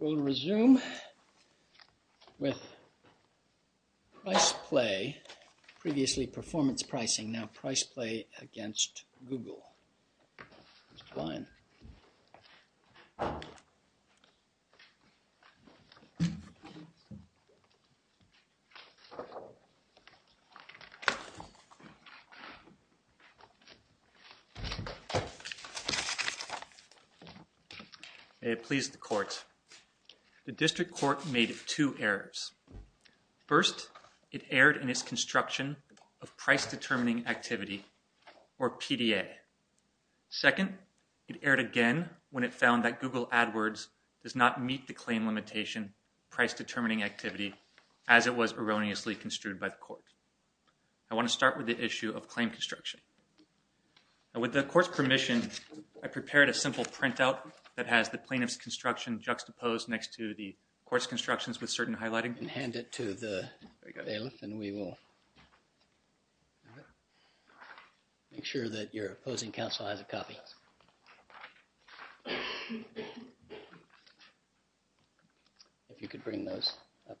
We will resume with PRICEPLAY, previously PERFORMANCE PRICING, now PRICEPLAY against GOOGLE May it please the Court, the District Court made two errors. First, it erred in plaintiff's construction of price determining activity or PDA. Second, it erred again when it found that GOOGLE AdWords does not meet the claim limitation price determining activity as it was erroneously construed by the Court. I want to start with the issue of claim construction. With the Court's permission, I prepared a simple printout that has the plaintiff's construction juxtaposed next to the Court's constructions with certain highlighting and hand it to the bailiff and we will make sure that your opposing counsel has a copy. If you could bring those up.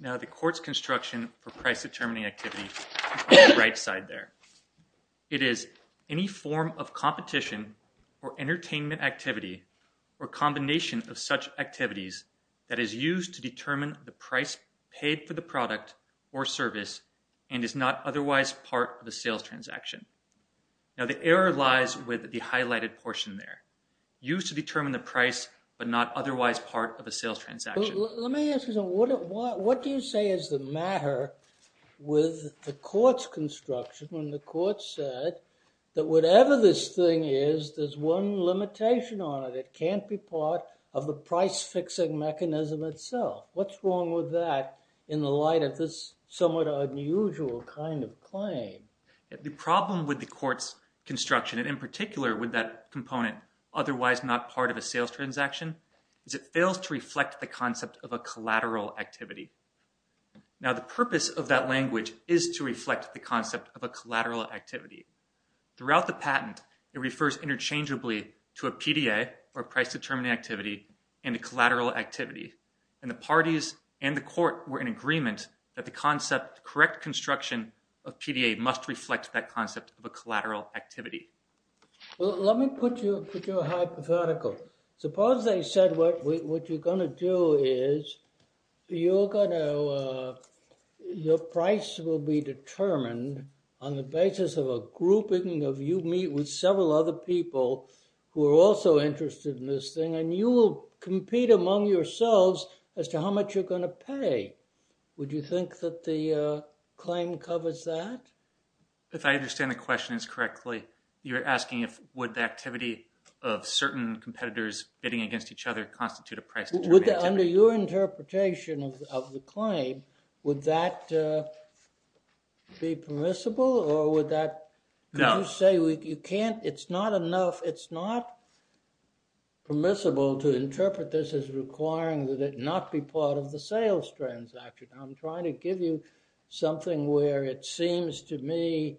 Now, the Court's construction for price determining activity is on the right side there. It is any form of competition or entertainment activity or combination of such activities that is not otherwise part of the sales transaction. Now, the error lies with the highlighted portion there. Used to determine the price but not otherwise part of a sales transaction. Let me ask you something. What do you say is the matter with the Court's construction when the Court said that whatever this thing is, there's one limitation on it. It can't be part of the The problem with the Court's construction and in particular with that component otherwise not part of a sales transaction is it fails to reflect the concept of a collateral activity. Now, the purpose of that language is to reflect the concept of a collateral activity. Throughout the patent, it refers interchangeably to a PDA or price determining activity and a collateral activity and the parties and the Court were in agreement that the concept correct construction of PDA must reflect that concept of a collateral activity. Well, let me put you a hypothetical. Suppose they said what you're going to do is your price will be determined on the basis of a grouping of you meet with several other people who are also interested in this thing and you will compete among yourselves as to how much you're going to claim covers that? If I understand the question is correctly, you're asking if would the activity of certain competitors bidding against each other constitute a price? Would that under your interpretation of the claim, would that be permissible or would that say you can't it's not enough it's not permissible to interpret this as requiring that it not be part of the sales transaction? I'm trying to give you something where it seems to me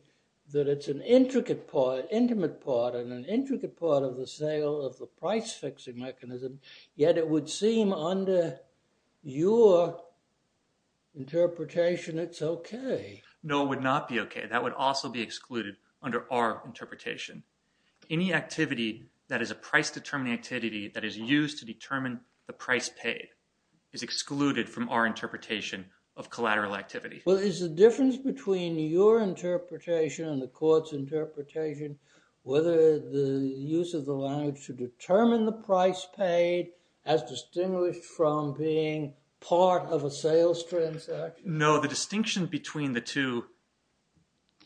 that it's an intricate part, intimate part, and an intricate part of the sale of the price fixing mechanism, yet it would seem under your interpretation it's okay. No, it would not be okay. That would also be excluded under our interpretation. Any activity that is a price determining activity that is used to determine the price paid is excluded from our interpretation of collateral activity. Well, is the difference between your interpretation and the court's interpretation whether the use of the language to determine the price paid as distinguished from being part of a sales transaction? No, the distinction between the two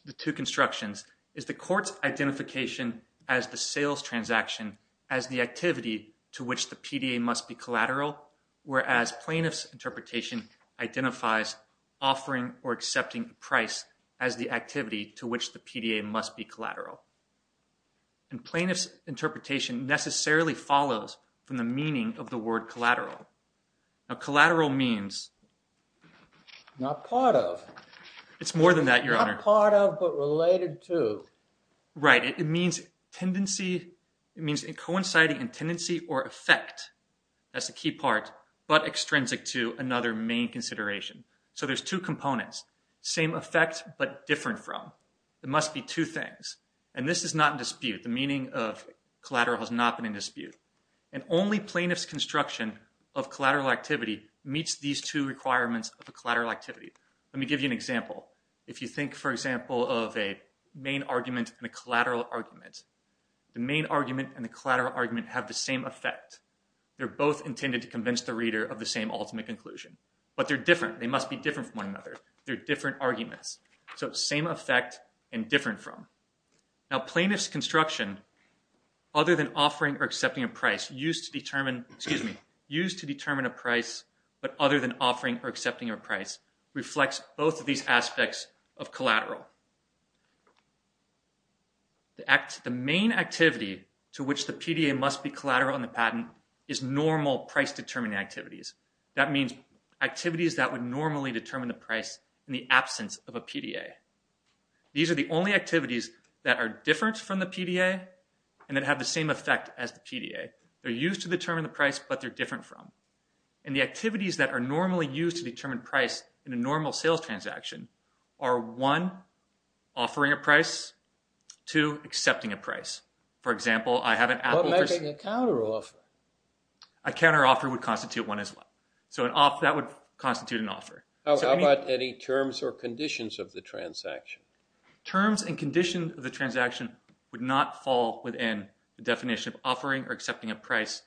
the two constructions is the court's identification as the sales transaction as the activity to which the PDA must be collateral, whereas plaintiff's interpretation identifies offering or accepting price as the activity to which the PDA must be collateral. And plaintiff's interpretation necessarily follows from the meaning of the word collateral. Now collateral means not part of. It's more than that, Your Honor. Not part of, but related to. Right, it means it coinciding in tendency or effect. That's the key part, but extrinsic to another main consideration. So there's two components. Same effect, but different from. There must be two things, and this is not in dispute. The meaning of collateral has not been in dispute, and only plaintiff's construction of collateral activity think, for example, of a main argument and a collateral argument. The main argument and the collateral argument have the same effect. They're both intended to convince the reader of the same ultimate conclusion, but they're different. They must be different from one another. They're different arguments. So same effect and different from. Now plaintiff's construction, other than offering or accepting a price used to determine, excuse me, used to determine a price, but other than offering or accepting a price reflects both of these aspects of collateral. The main activity to which the PDA must be collateral on the patent is normal price determining activities. That means activities that would normally determine the price in the absence of a PDA. These are the only activities that are different from the PDA and that have the same effect as the PDA. They're normally used to determine price in a normal sales transaction are one, offering a price, two, accepting a price. For example, I have an Apple. A counter offer would constitute one as well. So that would constitute an offer. How about any terms or conditions of the transaction? Terms and conditions of the transaction would not fall within the definition of offering or price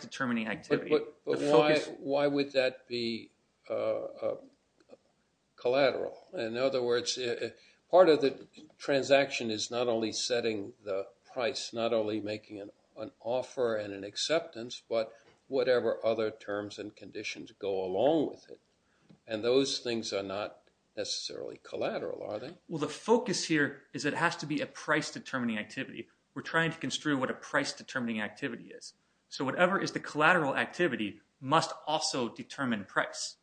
determining activity. But why would that be collateral? In other words, part of the transaction is not only setting the price, not only making an offer and an acceptance, but whatever other terms and conditions go along with it. And those things are not necessarily collateral, are they? Well, the focus here is it has to be a price determining activity. We're trying to say the collateral activity must also determine price.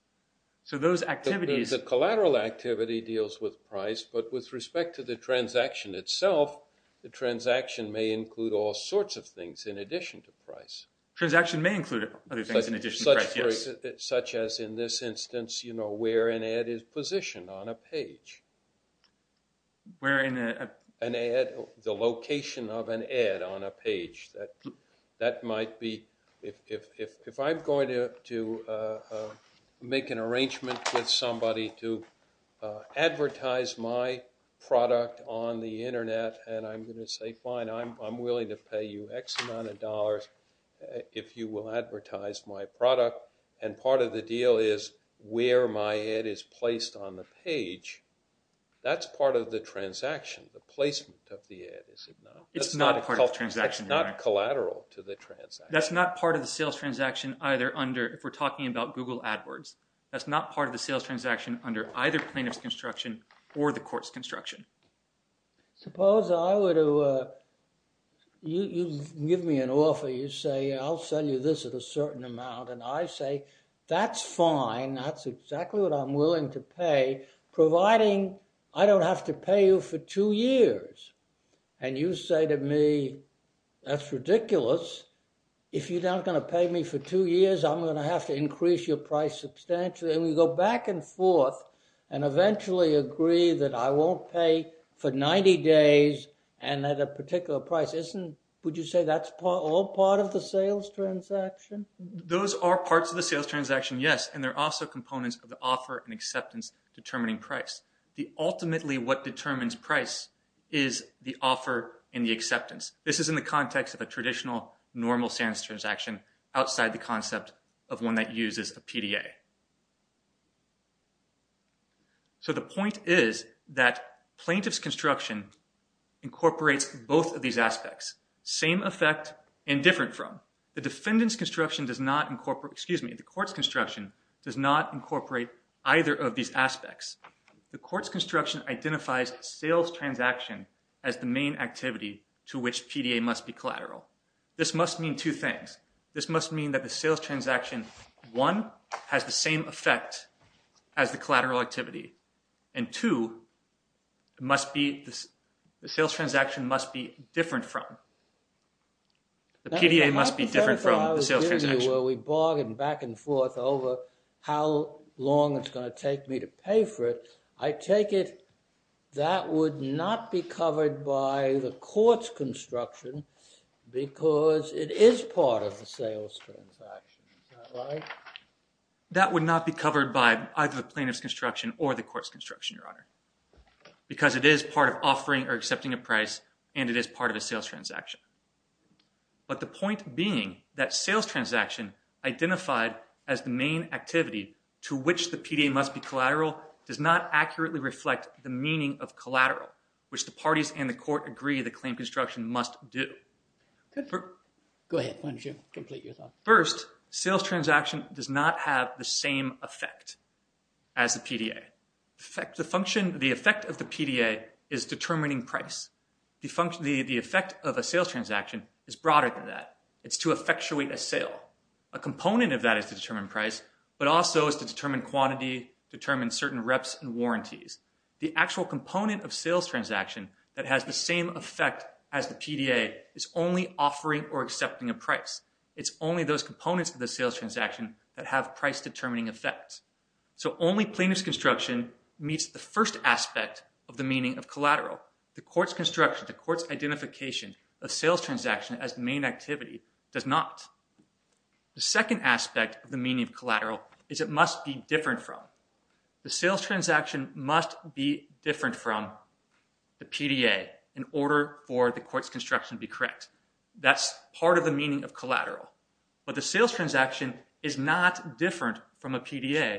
So those activities... The collateral activity deals with price, but with respect to the transaction itself, the transaction may include all sorts of things in addition to price. Transaction may include other things in addition to price, yes. Such as in this instance, you know, where an ad is positioned on a page. Where in a... An ad, the if I'm going to make an arrangement with somebody to advertise my product on the internet, and I'm going to say, fine, I'm willing to pay you X amount of dollars if you will advertise my product. And part of the deal is where my ad is placed on the page. That's part of the transaction, the placement of the ad, is it not? It's not a part of the transaction. It's not collateral to the transaction. That's not part of the sales transaction either under... If we're talking about Google AdWords, that's not part of the sales transaction under either plaintiff's construction or the court's construction. Suppose I were to... You give me an offer. You say, I'll sell you this at a certain amount. And I say, that's fine. That's exactly what I'm willing to pay, providing I don't have to pay you for two years. And you say to me, that's ridiculous. If you're not going to pay me for two years, I'm going to have to increase your price substantially. And we go back and forth and eventually agree that I won't pay for 90 days and at a particular price. Isn't... Would you say that's all part of the sales transaction? Those are parts of the sales transaction, yes. And they're also components of the offer and acceptance determining price. The ultimately what determines price is the offer and the acceptance. This is in the context of a traditional normal sales transaction outside the concept of one that uses a PDA. So the point is that plaintiff's construction incorporates both of these aspects. Same effect and different from. The defendant's construction does not incorporate... Excuse me. The court's construction does not incorporate either of these aspects. The court's construction identifies sales transaction as the main activity to which PDA must be collateral. This must mean two things. This must mean that the sales transaction, one, has the same effect as the collateral activity. And two, it must be... The sales transaction must be different from... The PDA must be different from the sales transaction. We bargained back and forth over how long it's going to take me to pay for it. I take it that would not be covered by the court's construction because it is part of the sales transaction. Is that right? That would not be covered by either the plaintiff's construction or the court's construction, Your Honor, because it is part of offering or accepting a price and it is part of a sales transaction. But the point being sales transaction identified as the main activity to which the PDA must be collateral does not accurately reflect the meaning of collateral, which the parties and the court agree the claim construction must do. Go ahead. Why don't you complete your thought? First, sales transaction does not have the same effect as the PDA. The effect of the PDA is determining price. The effect of a sales transaction is broader than that. It's to effectuate a sale. A component of that is to determine price, but also is to determine quantity, determine certain reps and warranties. The actual component of sales transaction that has the same effect as the PDA is only offering or accepting a price. It's only those components of the sales transaction that have price determining effects. So only plaintiff's construction meets the first aspect of the meaning of collateral. The court's construction, the court's identification of sales transaction as main activity does not. The second aspect of the meaning of collateral is it must be different from. The sales transaction must be different from the PDA in order for the court's construction to be correct. That's part of the meaning of collateral. But the sales transaction is not different from a patent.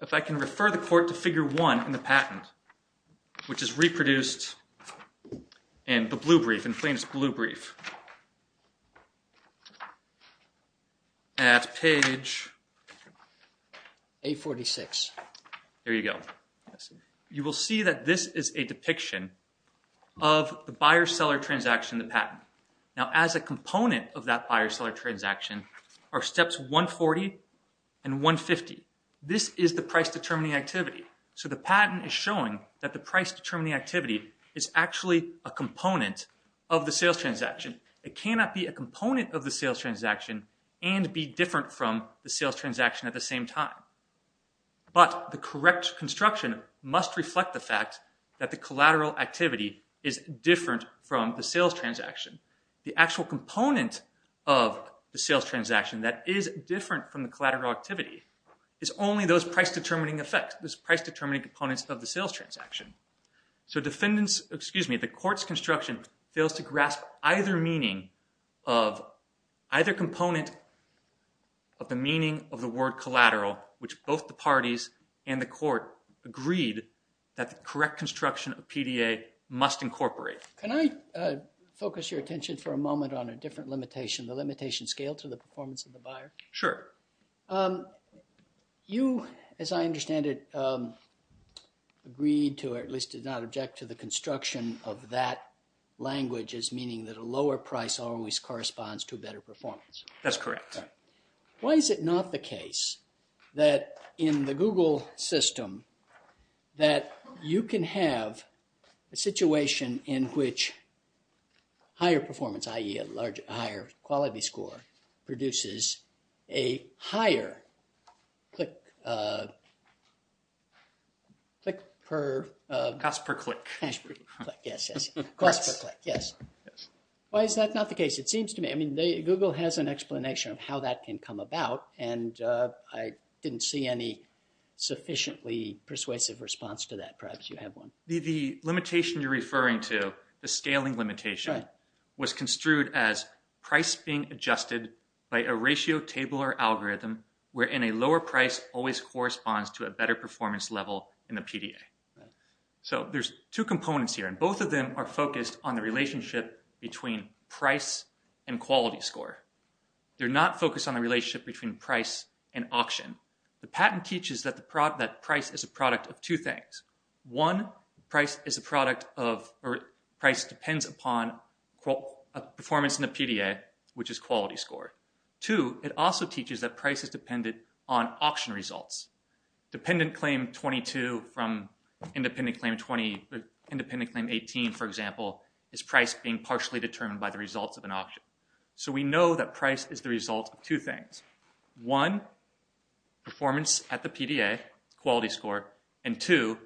If I can refer the court to figure one in the patent, which is reproduced in the blue brief, in plaintiff's blue brief, at page 846. There you go. You will see that this is a depiction of the buyer-seller transaction, the patent. Now as a component of that buyer-seller transaction are steps 140 and 150. This is the price determining activity. So the patent is showing that the price determining activity is actually a component of the sales transaction. It cannot be a component of the sales transaction and be different from the sales transaction at the same time. But the correct construction must reflect the fact that the collateral activity is different from the sales transaction. The actual component of the sales transaction that is different from the collateral activity is only those price determining effects, those price determining components of the sales transaction. So defendants, excuse me, the court's construction fails to grasp either meaning of either component of the meaning of the word collateral, which both the parties and the court agreed that the correct construction of PDA must incorporate. Can I focus your attention for a moment on a different limitation, the limitation scale to the performance of the buyer? Sure. You, as I understand it, agreed to or at least did not object to the construction of that language as meaning that a lower price always corresponds to a better performance. That's correct. Why is it not the case that in the Google system that you can have a situation in which higher performance, i.e. a larger higher quality score, produces a higher click, click per... Cost per click. Yes, yes. Cost per click, yes. Why is that not the case? It seems to me, I mean, Google has an explanation of how that can come about and I didn't see any sufficiently persuasive response to that. Perhaps you have one. The limitation you're referring to, the scaling limitation, was construed as price being adjusted by a ratio table or algorithm wherein a lower price always corresponds to a better performance level in the PDA. So there's two components here and both of them are focused on the relationship between price and quality score. They're not focused on the relationship between price and auction. The patent teaches that the product that price is a product of two things. One, price is a product of or price depends upon a performance in the PDA, which is quality score. Two, it also teaches that price is dependent on auction results. Dependent claim 22 from independent claim 20, independent claim 18, for example, is price being partially determined by the results of an auction. So we know that price is the result of two things. One, performance at the PDA, quality score, and two,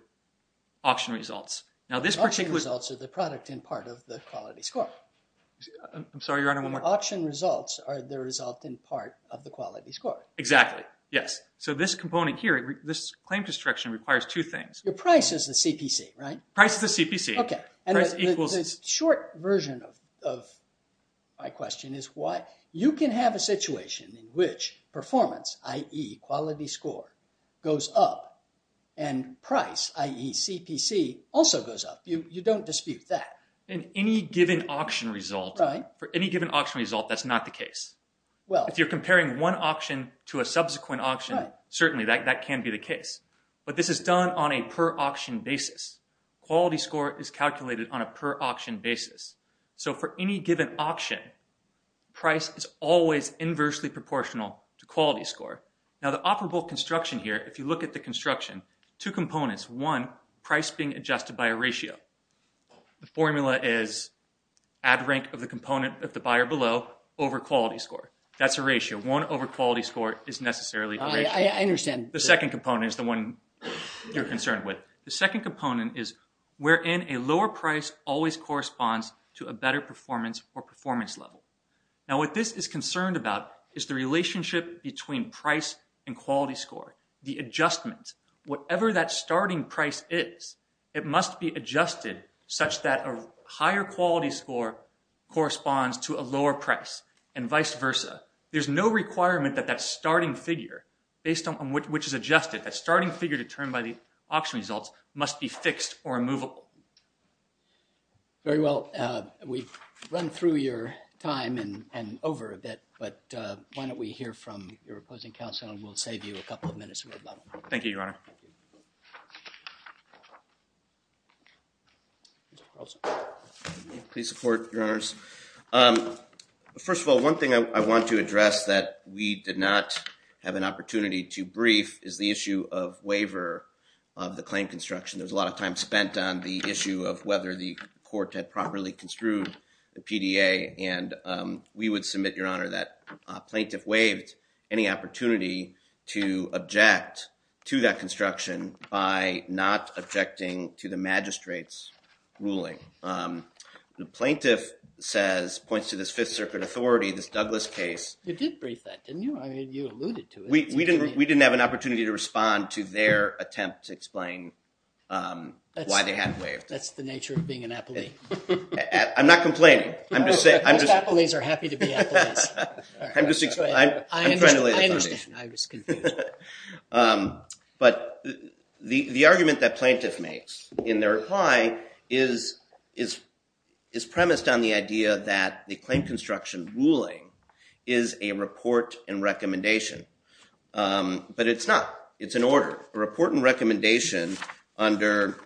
auction results. Now this particular... Auction results are the product in part of the quality score. I'm sorry, your honor, one more... Auction results are the result in part of the yes. So this component here, this claim destruction requires two things. Your price is the CPC, right? Price is the CPC. Okay, and the short version of my question is why you can have a situation in which performance, i.e. quality score, goes up and price, i.e. CPC, also goes up. You don't dispute that. In any given auction result, for any given auction result, that's not the case. If you're comparing one auction to a subsequent auction, certainly that can be the case. But this is done on a per auction basis. Quality score is calculated on a per auction basis. So for any given auction, price is always inversely proportional to quality score. Now the operable construction here, if you look at the construction, two components. One, price being adjusted by a ratio. The formula is ad rank of the component of the buyer below over quality score. That's a ratio. One over quality score is necessarily... I understand. The second component is the one you're concerned with. The second component is wherein a lower price always corresponds to a better performance or performance level. Now what this is concerned about is the relationship between price and quality score, the adjustment. Whatever that starting price is, it must be adjusted such that a higher quality score corresponds to a lower price and vice versa. There's no requirement that that starting figure, based on which is adjusted, that starting figure determined by the auction results must be fixed or immovable. Very well. We've run through your time and over a bit, but why don't we hear from your opposing counsel and we'll save you a couple of minutes. Thank you, Your Honor. Please support, Your Honors. First of all, one thing I want to address that we did not have an opportunity to brief is the issue of waiver of the claim construction. There's a lot of time spent on the issue of whether the court had properly construed the PDA, and we would submit, Your Honor, that a plaintiff waived any opportunity to object to that construction by not objecting to the magistrate's ruling. The plaintiff says, points to this Fifth Circuit authority, this Douglas case. You did brief that, didn't you? I mean, you alluded to it. We didn't have an opportunity to respond to their attempt to explain why they hadn't waived. That's the nature of being an appellee. I'm not complaining. Most appellees are happy to be appellees. I understand, I was confused. But the argument that plaintiff makes in their reply is premised on the idea that the claim construction ruling is a report and recommendation, but it's not. It's an order, a report and recommendation under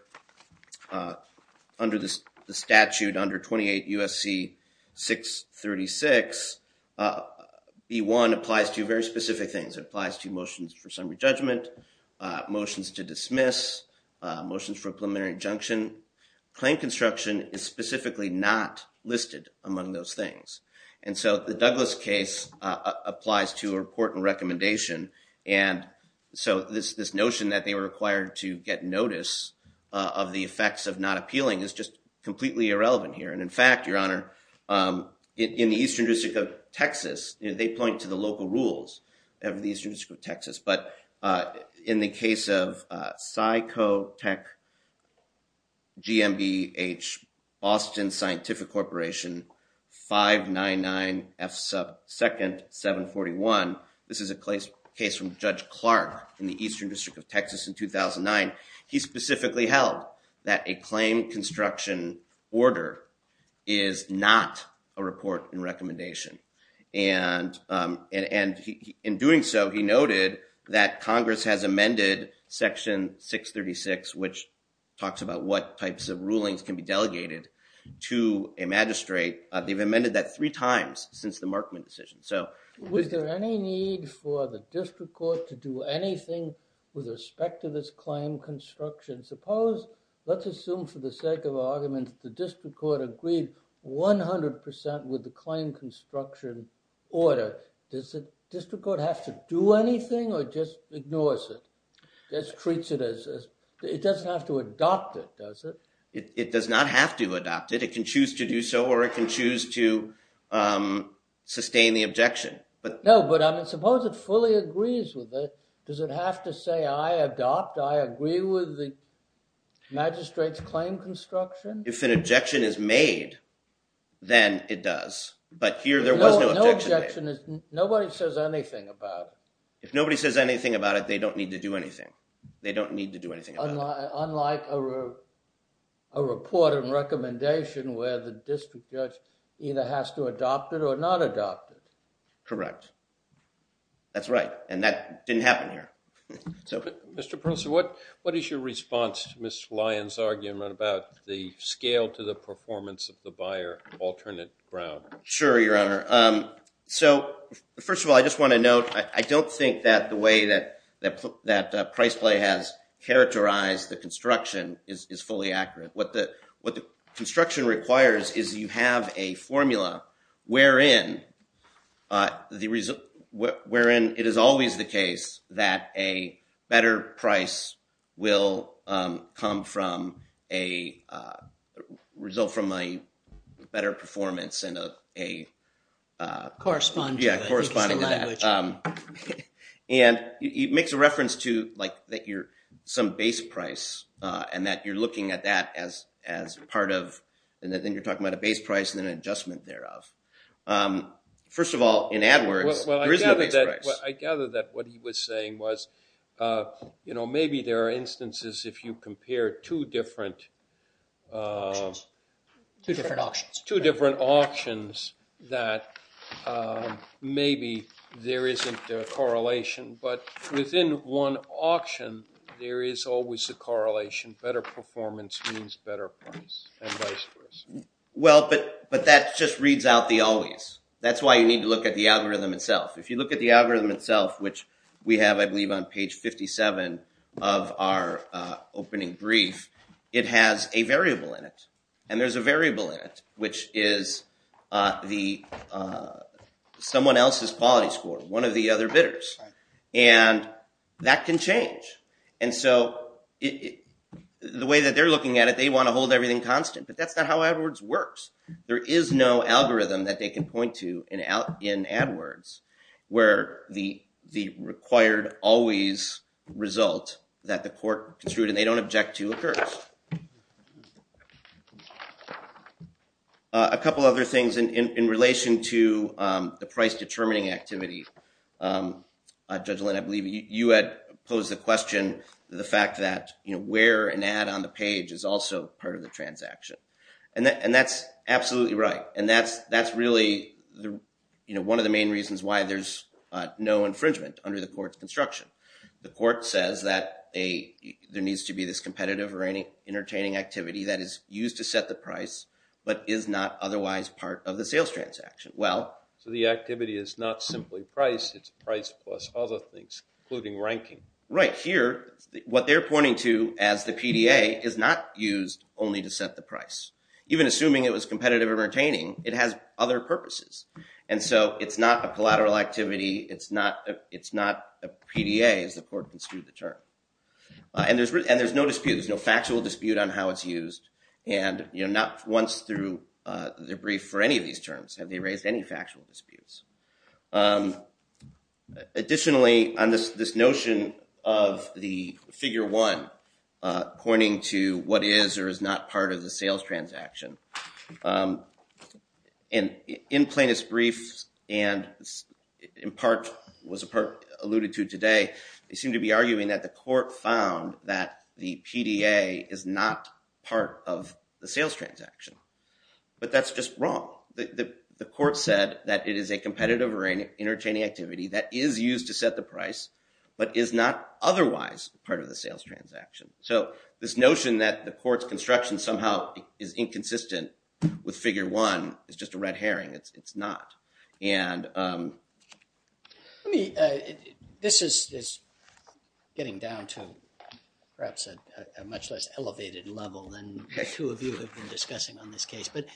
the statute under 28 U.S.C. 636. B-1 applies to very specific things. It applies to motions for summary judgment, motions to dismiss, motions for a preliminary injunction. Claim construction is specifically not listed among those things, and so the Douglas case applies to a report and recommendation, and so this notion that they were required to get notice of the effects of not appealing is just completely irrelevant here. And in fact, Your Honor, in the Eastern District of Texas, they point to the local rules of the Eastern District of Texas, but in the case of Psychotech GMBH, Boston Scientific Corporation, 599F2nd741, this is a case from Judge Clark in the Eastern District of Texas in 2009, he specifically held that a claim construction order is not a report and recommendation. And in doing so, he noted that Congress has amended Section 636, which talks about what types of rulings can be delegated to a magistrate. They've amended that three times since the Markman decision. So was there any need for the district court to do anything with respect to this claim construction? Suppose, let's assume for the sake of argument, the district court agreed 100% with the claim construction order. Does the district court have to do anything or just ignores it? It doesn't have to adopt it, does it? It does not have to adopt it. It can choose to do so or it can choose to sustain the objection. No, but I mean, suppose it fully agrees with it. Does it have to say, I adopt, I agree with the magistrate's claim construction? If an objection is made, then it does, but here there was no objection. Nobody says anything about it. If nobody says anything about it, they don't need to do anything. They don't need to do anything. Unlike a report and recommendation where the district judge either has to adopt it or not adopt it. Correct. That's right. And that didn't happen here. So, Mr. Perlso, what is your response to Ms. Lyon's argument about the scale to the performance of the buyer, alternate ground? Sure, Your Honor. So, first of all, I just want to note, I don't think that the way that price play has characterized the construction is fully accurate. What the construction requires is you have a formula wherein it is always the case that a better price will come from a result from a better performance and a corresponding to that. And it makes a reference to some base price and that you're looking at that as part of, and then you're talking about a base price and an adjustment thereof. First of all, in AdWords, there is no base price. Well, I gather that what he was saying was, you know, maybe there are instances if you compare two different auctions that maybe there isn't a correlation, but within one auction there is always a correlation. Better performance means better price and vice versa. Well, but that just reads out the always. That's why you need to look at the algorithm itself. If you look at the algorithm itself, which we have, I believe, on page 57 of our opening brief, it has a variable in it. And there's a variable in it, which is someone else's quality score, one of the other bidders. And that can change. And so the way that they're looking at it, they want to hold everything constant, but that's not how AdWords works. There is no algorithm that they can point to in AdWords where the required always result that the court construed and they don't object to occurs. A couple other things in relation to the price determining activity. Judge Lynn, I believe you had posed the question, the fact that, you know, where an ad on the page is also part of the transaction. And that's absolutely right. And that's really, you know, one of the main reasons why there's no infringement under the court's construction. The court says that there needs to be this competitive or entertaining activity that is used to set the price, but is not otherwise part of the sales transaction. Well... So the activity is not simply price, it's price plus other things, including ranking. Right. Here, what they're pointing to as the PDA is not used only to set the price. Even assuming it was competitive entertaining, it has other purposes. And so it's not a collateral activity. It's not a PDA as the court construed the term. And there's no dispute. There's no factual dispute on how it's used. And, you know, not once through the brief for any of these terms have they raised any factual disputes. Additionally, on this notion of the figure one pointing to what is or is not part of the sales transaction. And in plainest briefs, and in part was a part alluded to today, they seem to be arguing that the court found that the PDA is not part of the sales transaction. But that's just wrong. The court said that it is a competitive or an entertaining activity that is used to set the price, but is not otherwise part of the sales transaction. So this notion that the court's instruction somehow is inconsistent with figure one is just a red herring. It's not. And let me, this is getting down to perhaps a much less elevated level than two of you have been discussing on this case. But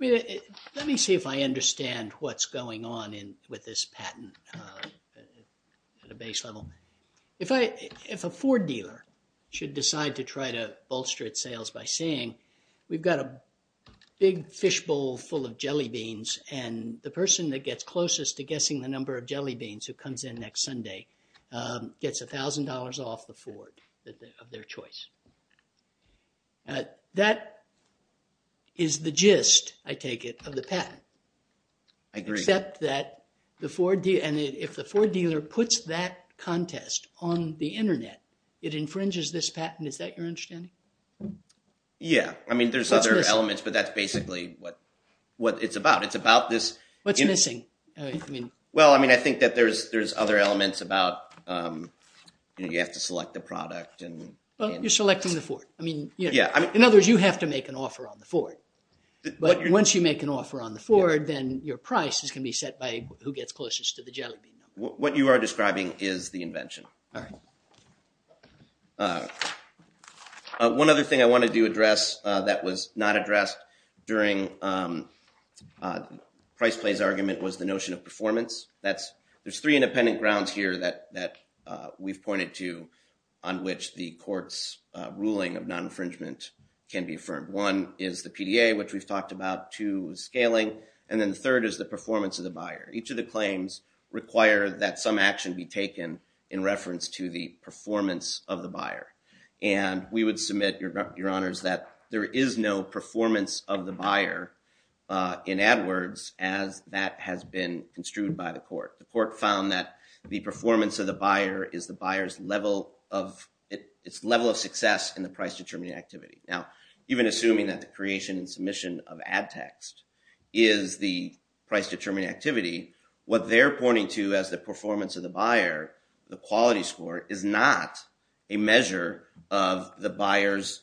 let me see if I understand what's going on in with this patent at a base level. If a Ford dealer should decide to try to bolster its sales by saying, we've got a big fishbowl full of jelly beans and the person that gets closest to guessing the number of jelly beans who comes in next Sunday gets a thousand dollars off the Ford of their choice. That is the gist, I take it, of the patent. I agree. Except that the Ford dealer, and if the Ford dealer puts that contest on the internet, it infringes this patent. Is that your understanding? Yeah. I mean, there's other elements, but that's basically what it's about. It's about this. What's missing? I mean. Well, I mean, I think that there's other elements about, you have to select the product and. Well, you're selecting the Ford. I mean. Yeah. In other words, you have to make an offer on the Ford. But once you make an offer on the Ford, then your price is going to be set by who gets closest to the jelly bean number. What you are describing is the invention. All right. One other thing I wanted to address that was not addressed during Price Play's argument was the notion of performance. There's three independent grounds here that we've pointed to on which the court's ruling of non-infringement can be affirmed. One is the PDA, which we've talked about. Two is scaling. And then the third is the performance of the buyer. Each of the claims require that some action be taken in reference to the performance of the buyer. And we would submit, your honors, that there is no performance of the court. The court found that the performance of the buyer is the buyer's level of success in the price-determining activity. Now, even assuming that the creation and submission of ad text is the price-determining activity, what they're pointing to as the performance of the buyer, the quality score, is not a measure of the buyer's,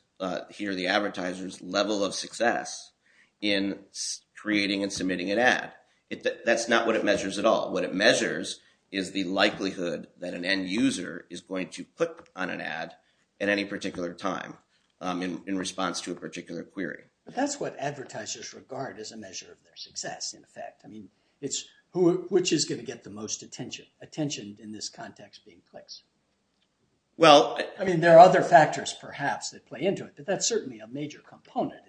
here the advertiser's, level of success in creating and submitting an ad. That's not what it measures at all. What it measures is the likelihood that an end user is going to click on an ad at any particular time in response to a particular query. But that's what advertisers regard as a measure of their success, in effect. Which is going to get the most attention in this context being clicks? I mean, there are other factors, perhaps, that play into it, but that's certainly a major component.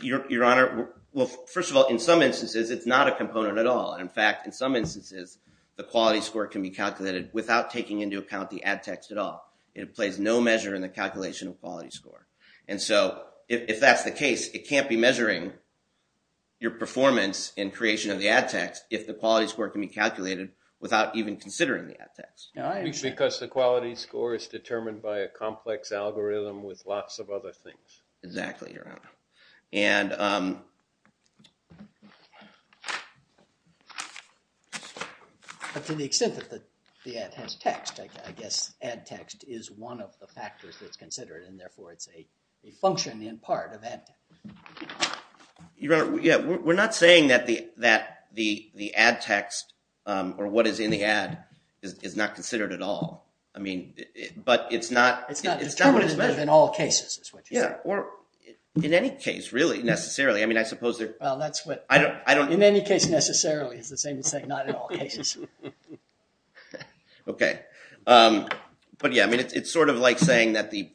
Your honor, well, first of all, in some instances, it's not a component at all. In fact, in some instances, the quality score can be calculated without taking into account the ad text at all. It plays no measure in the calculation of quality score. And so, if that's the case, it can't be measuring your performance in creation of the ad text if the quality score can be calculated without even considering the ad text. Because the quality score is determined by a And to the extent that the ad has text, I guess ad text is one of the factors that's considered, and therefore, it's a function in part of ad text. Your honor, yeah, we're not saying that the ad text, or what is in the ad, is not considered at all. I mean, but it's not... In all cases, is what you're saying. Yeah, or in any case, really, necessarily. I mean, I suppose they're... Well, that's what... I don't... In any case, necessarily, is the same as saying not in all cases. Okay. But yeah, I mean, it's sort of like saying that the...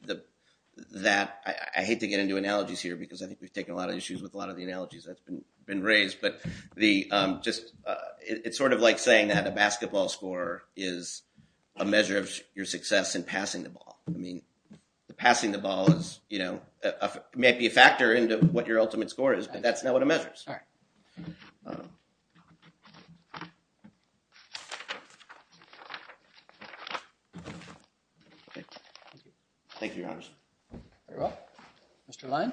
I hate to get into analogies here because I think we've taken a lot of issues with a lot of the analogies that's been raised, but it's sort of like saying that a basketball score is a measure of your success in passing the ball. I mean, the passing the ball is, you know, may be a factor into what your ultimate score is, but that's not what it measures. All right. Thank you, your honor. Very well. Mr. Lyon.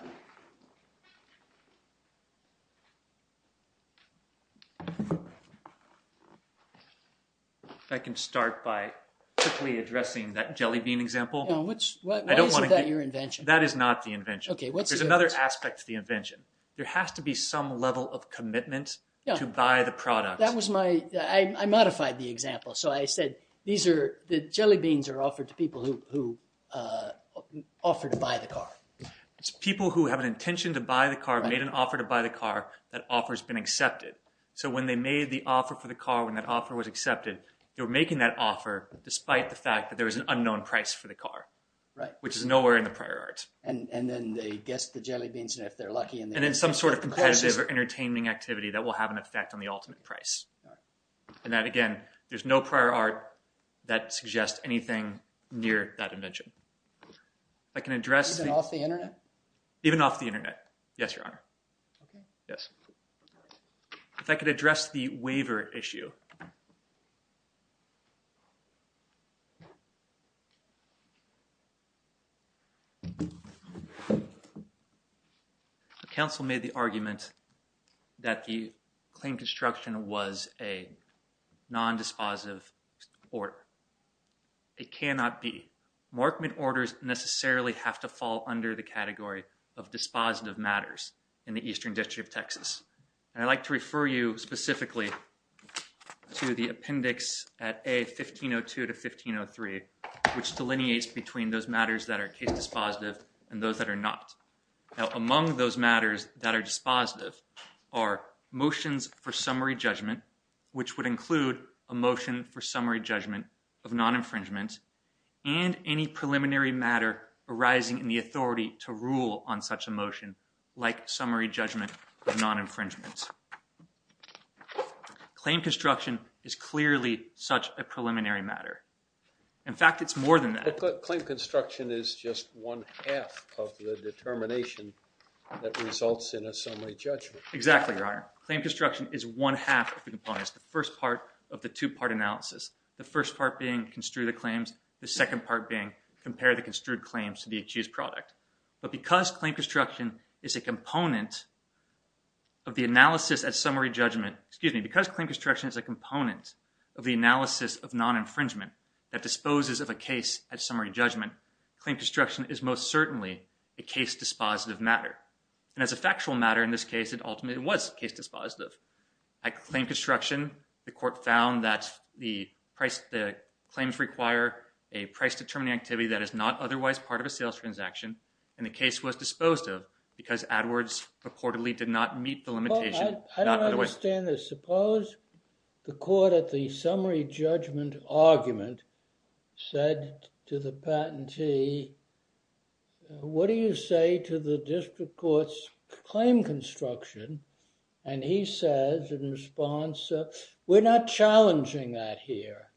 If I can start by quickly addressing that jellybean example. Why isn't that your invention? That is not the invention. There's another aspect to the invention. There has to be some level of commitment to buy the product. That was my... I modified the example. So I said, these are... The jellybeans are offered to people who offered to buy the car. It's people who have an intention to buy the car, made an offer to buy the car, that offer has been accepted. So when they made the offer for the car, when that offer was accepted, they were making that offer despite the fact that there was an unknown price for the car. Right. Which is nowhere in the prior art. And then they guessed the jellybeans, and if they're lucky... And then some sort of competitive or entertaining activity that will have an effect on the ultimate price. And that again, there's no prior art that suggests anything near that invention. I can address... Even off the internet? Even off the internet. Yes, your honor. Okay. Yes. If I could address the waiver issue. Okay. Counsel made the argument that the claim construction was a non-dispositive order. It cannot be. Markman orders necessarily have to fall under the category of dispositive matters in the Eastern District of Texas. And I'd like to refer you specifically to the appendix at A-1502 to 1503, which delineates between those matters that are case dispositive and those that are not. Now, among those matters that are dispositive are motions for summary judgment, which would include a motion for summary judgment of non-infringement and any preliminary matter arising in the summary judgment of non-infringement. Claim construction is clearly such a preliminary matter. In fact, it's more than that. Claim construction is just one half of the determination that results in a summary judgment. Exactly, your honor. Claim construction is one half of the components. The first part of the two-part analysis. The first part being construe the claims. The second part being compare the construed claims to the achieved product. But because claim construction is a component of the analysis at summary judgment, excuse me, because claim construction is a component of the analysis of non-infringement that disposes of a case at summary judgment, claim construction is most certainly a case-dispositive matter. And as a factual matter in this case, it ultimately was case-dispositive. At claim construction, the court found that the claims require a price-determining activity that is not otherwise part of a sales transaction. And the case was disposed of because AdWords purportedly did not meet the limitation. I don't understand this. Suppose the court at the summary judgment argument said to the patentee, what do you say to the district court's claim construction? And he says in response, we're not challenging that here.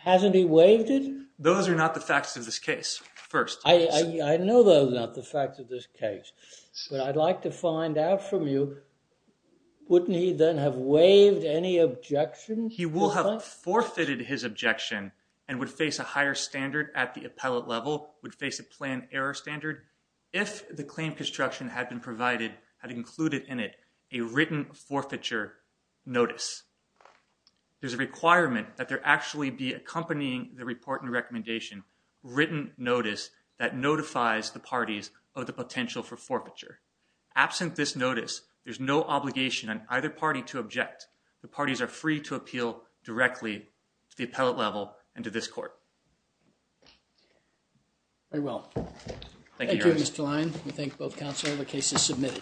Hasn't he waived it? Those are not the facts of this case, first. I know those are not the facts of this case, but I'd like to find out from you, wouldn't he then have waived any objections? He will have forfeited his objection and would face a higher standard at the appellate level, would face a planned error standard, if the claim construction had been provided, had included in it a written forfeiture notice. There's a requirement that there actually be accompanying the report and recommendation written notice that notifies the parties of the potential for forfeiture. Absent this notice, there's no obligation on either party to object. The parties are free to appeal directly to the appellate level and to this court. Very well. Thank you, Mr. Lyon. We thank both counsel. The case is submitted.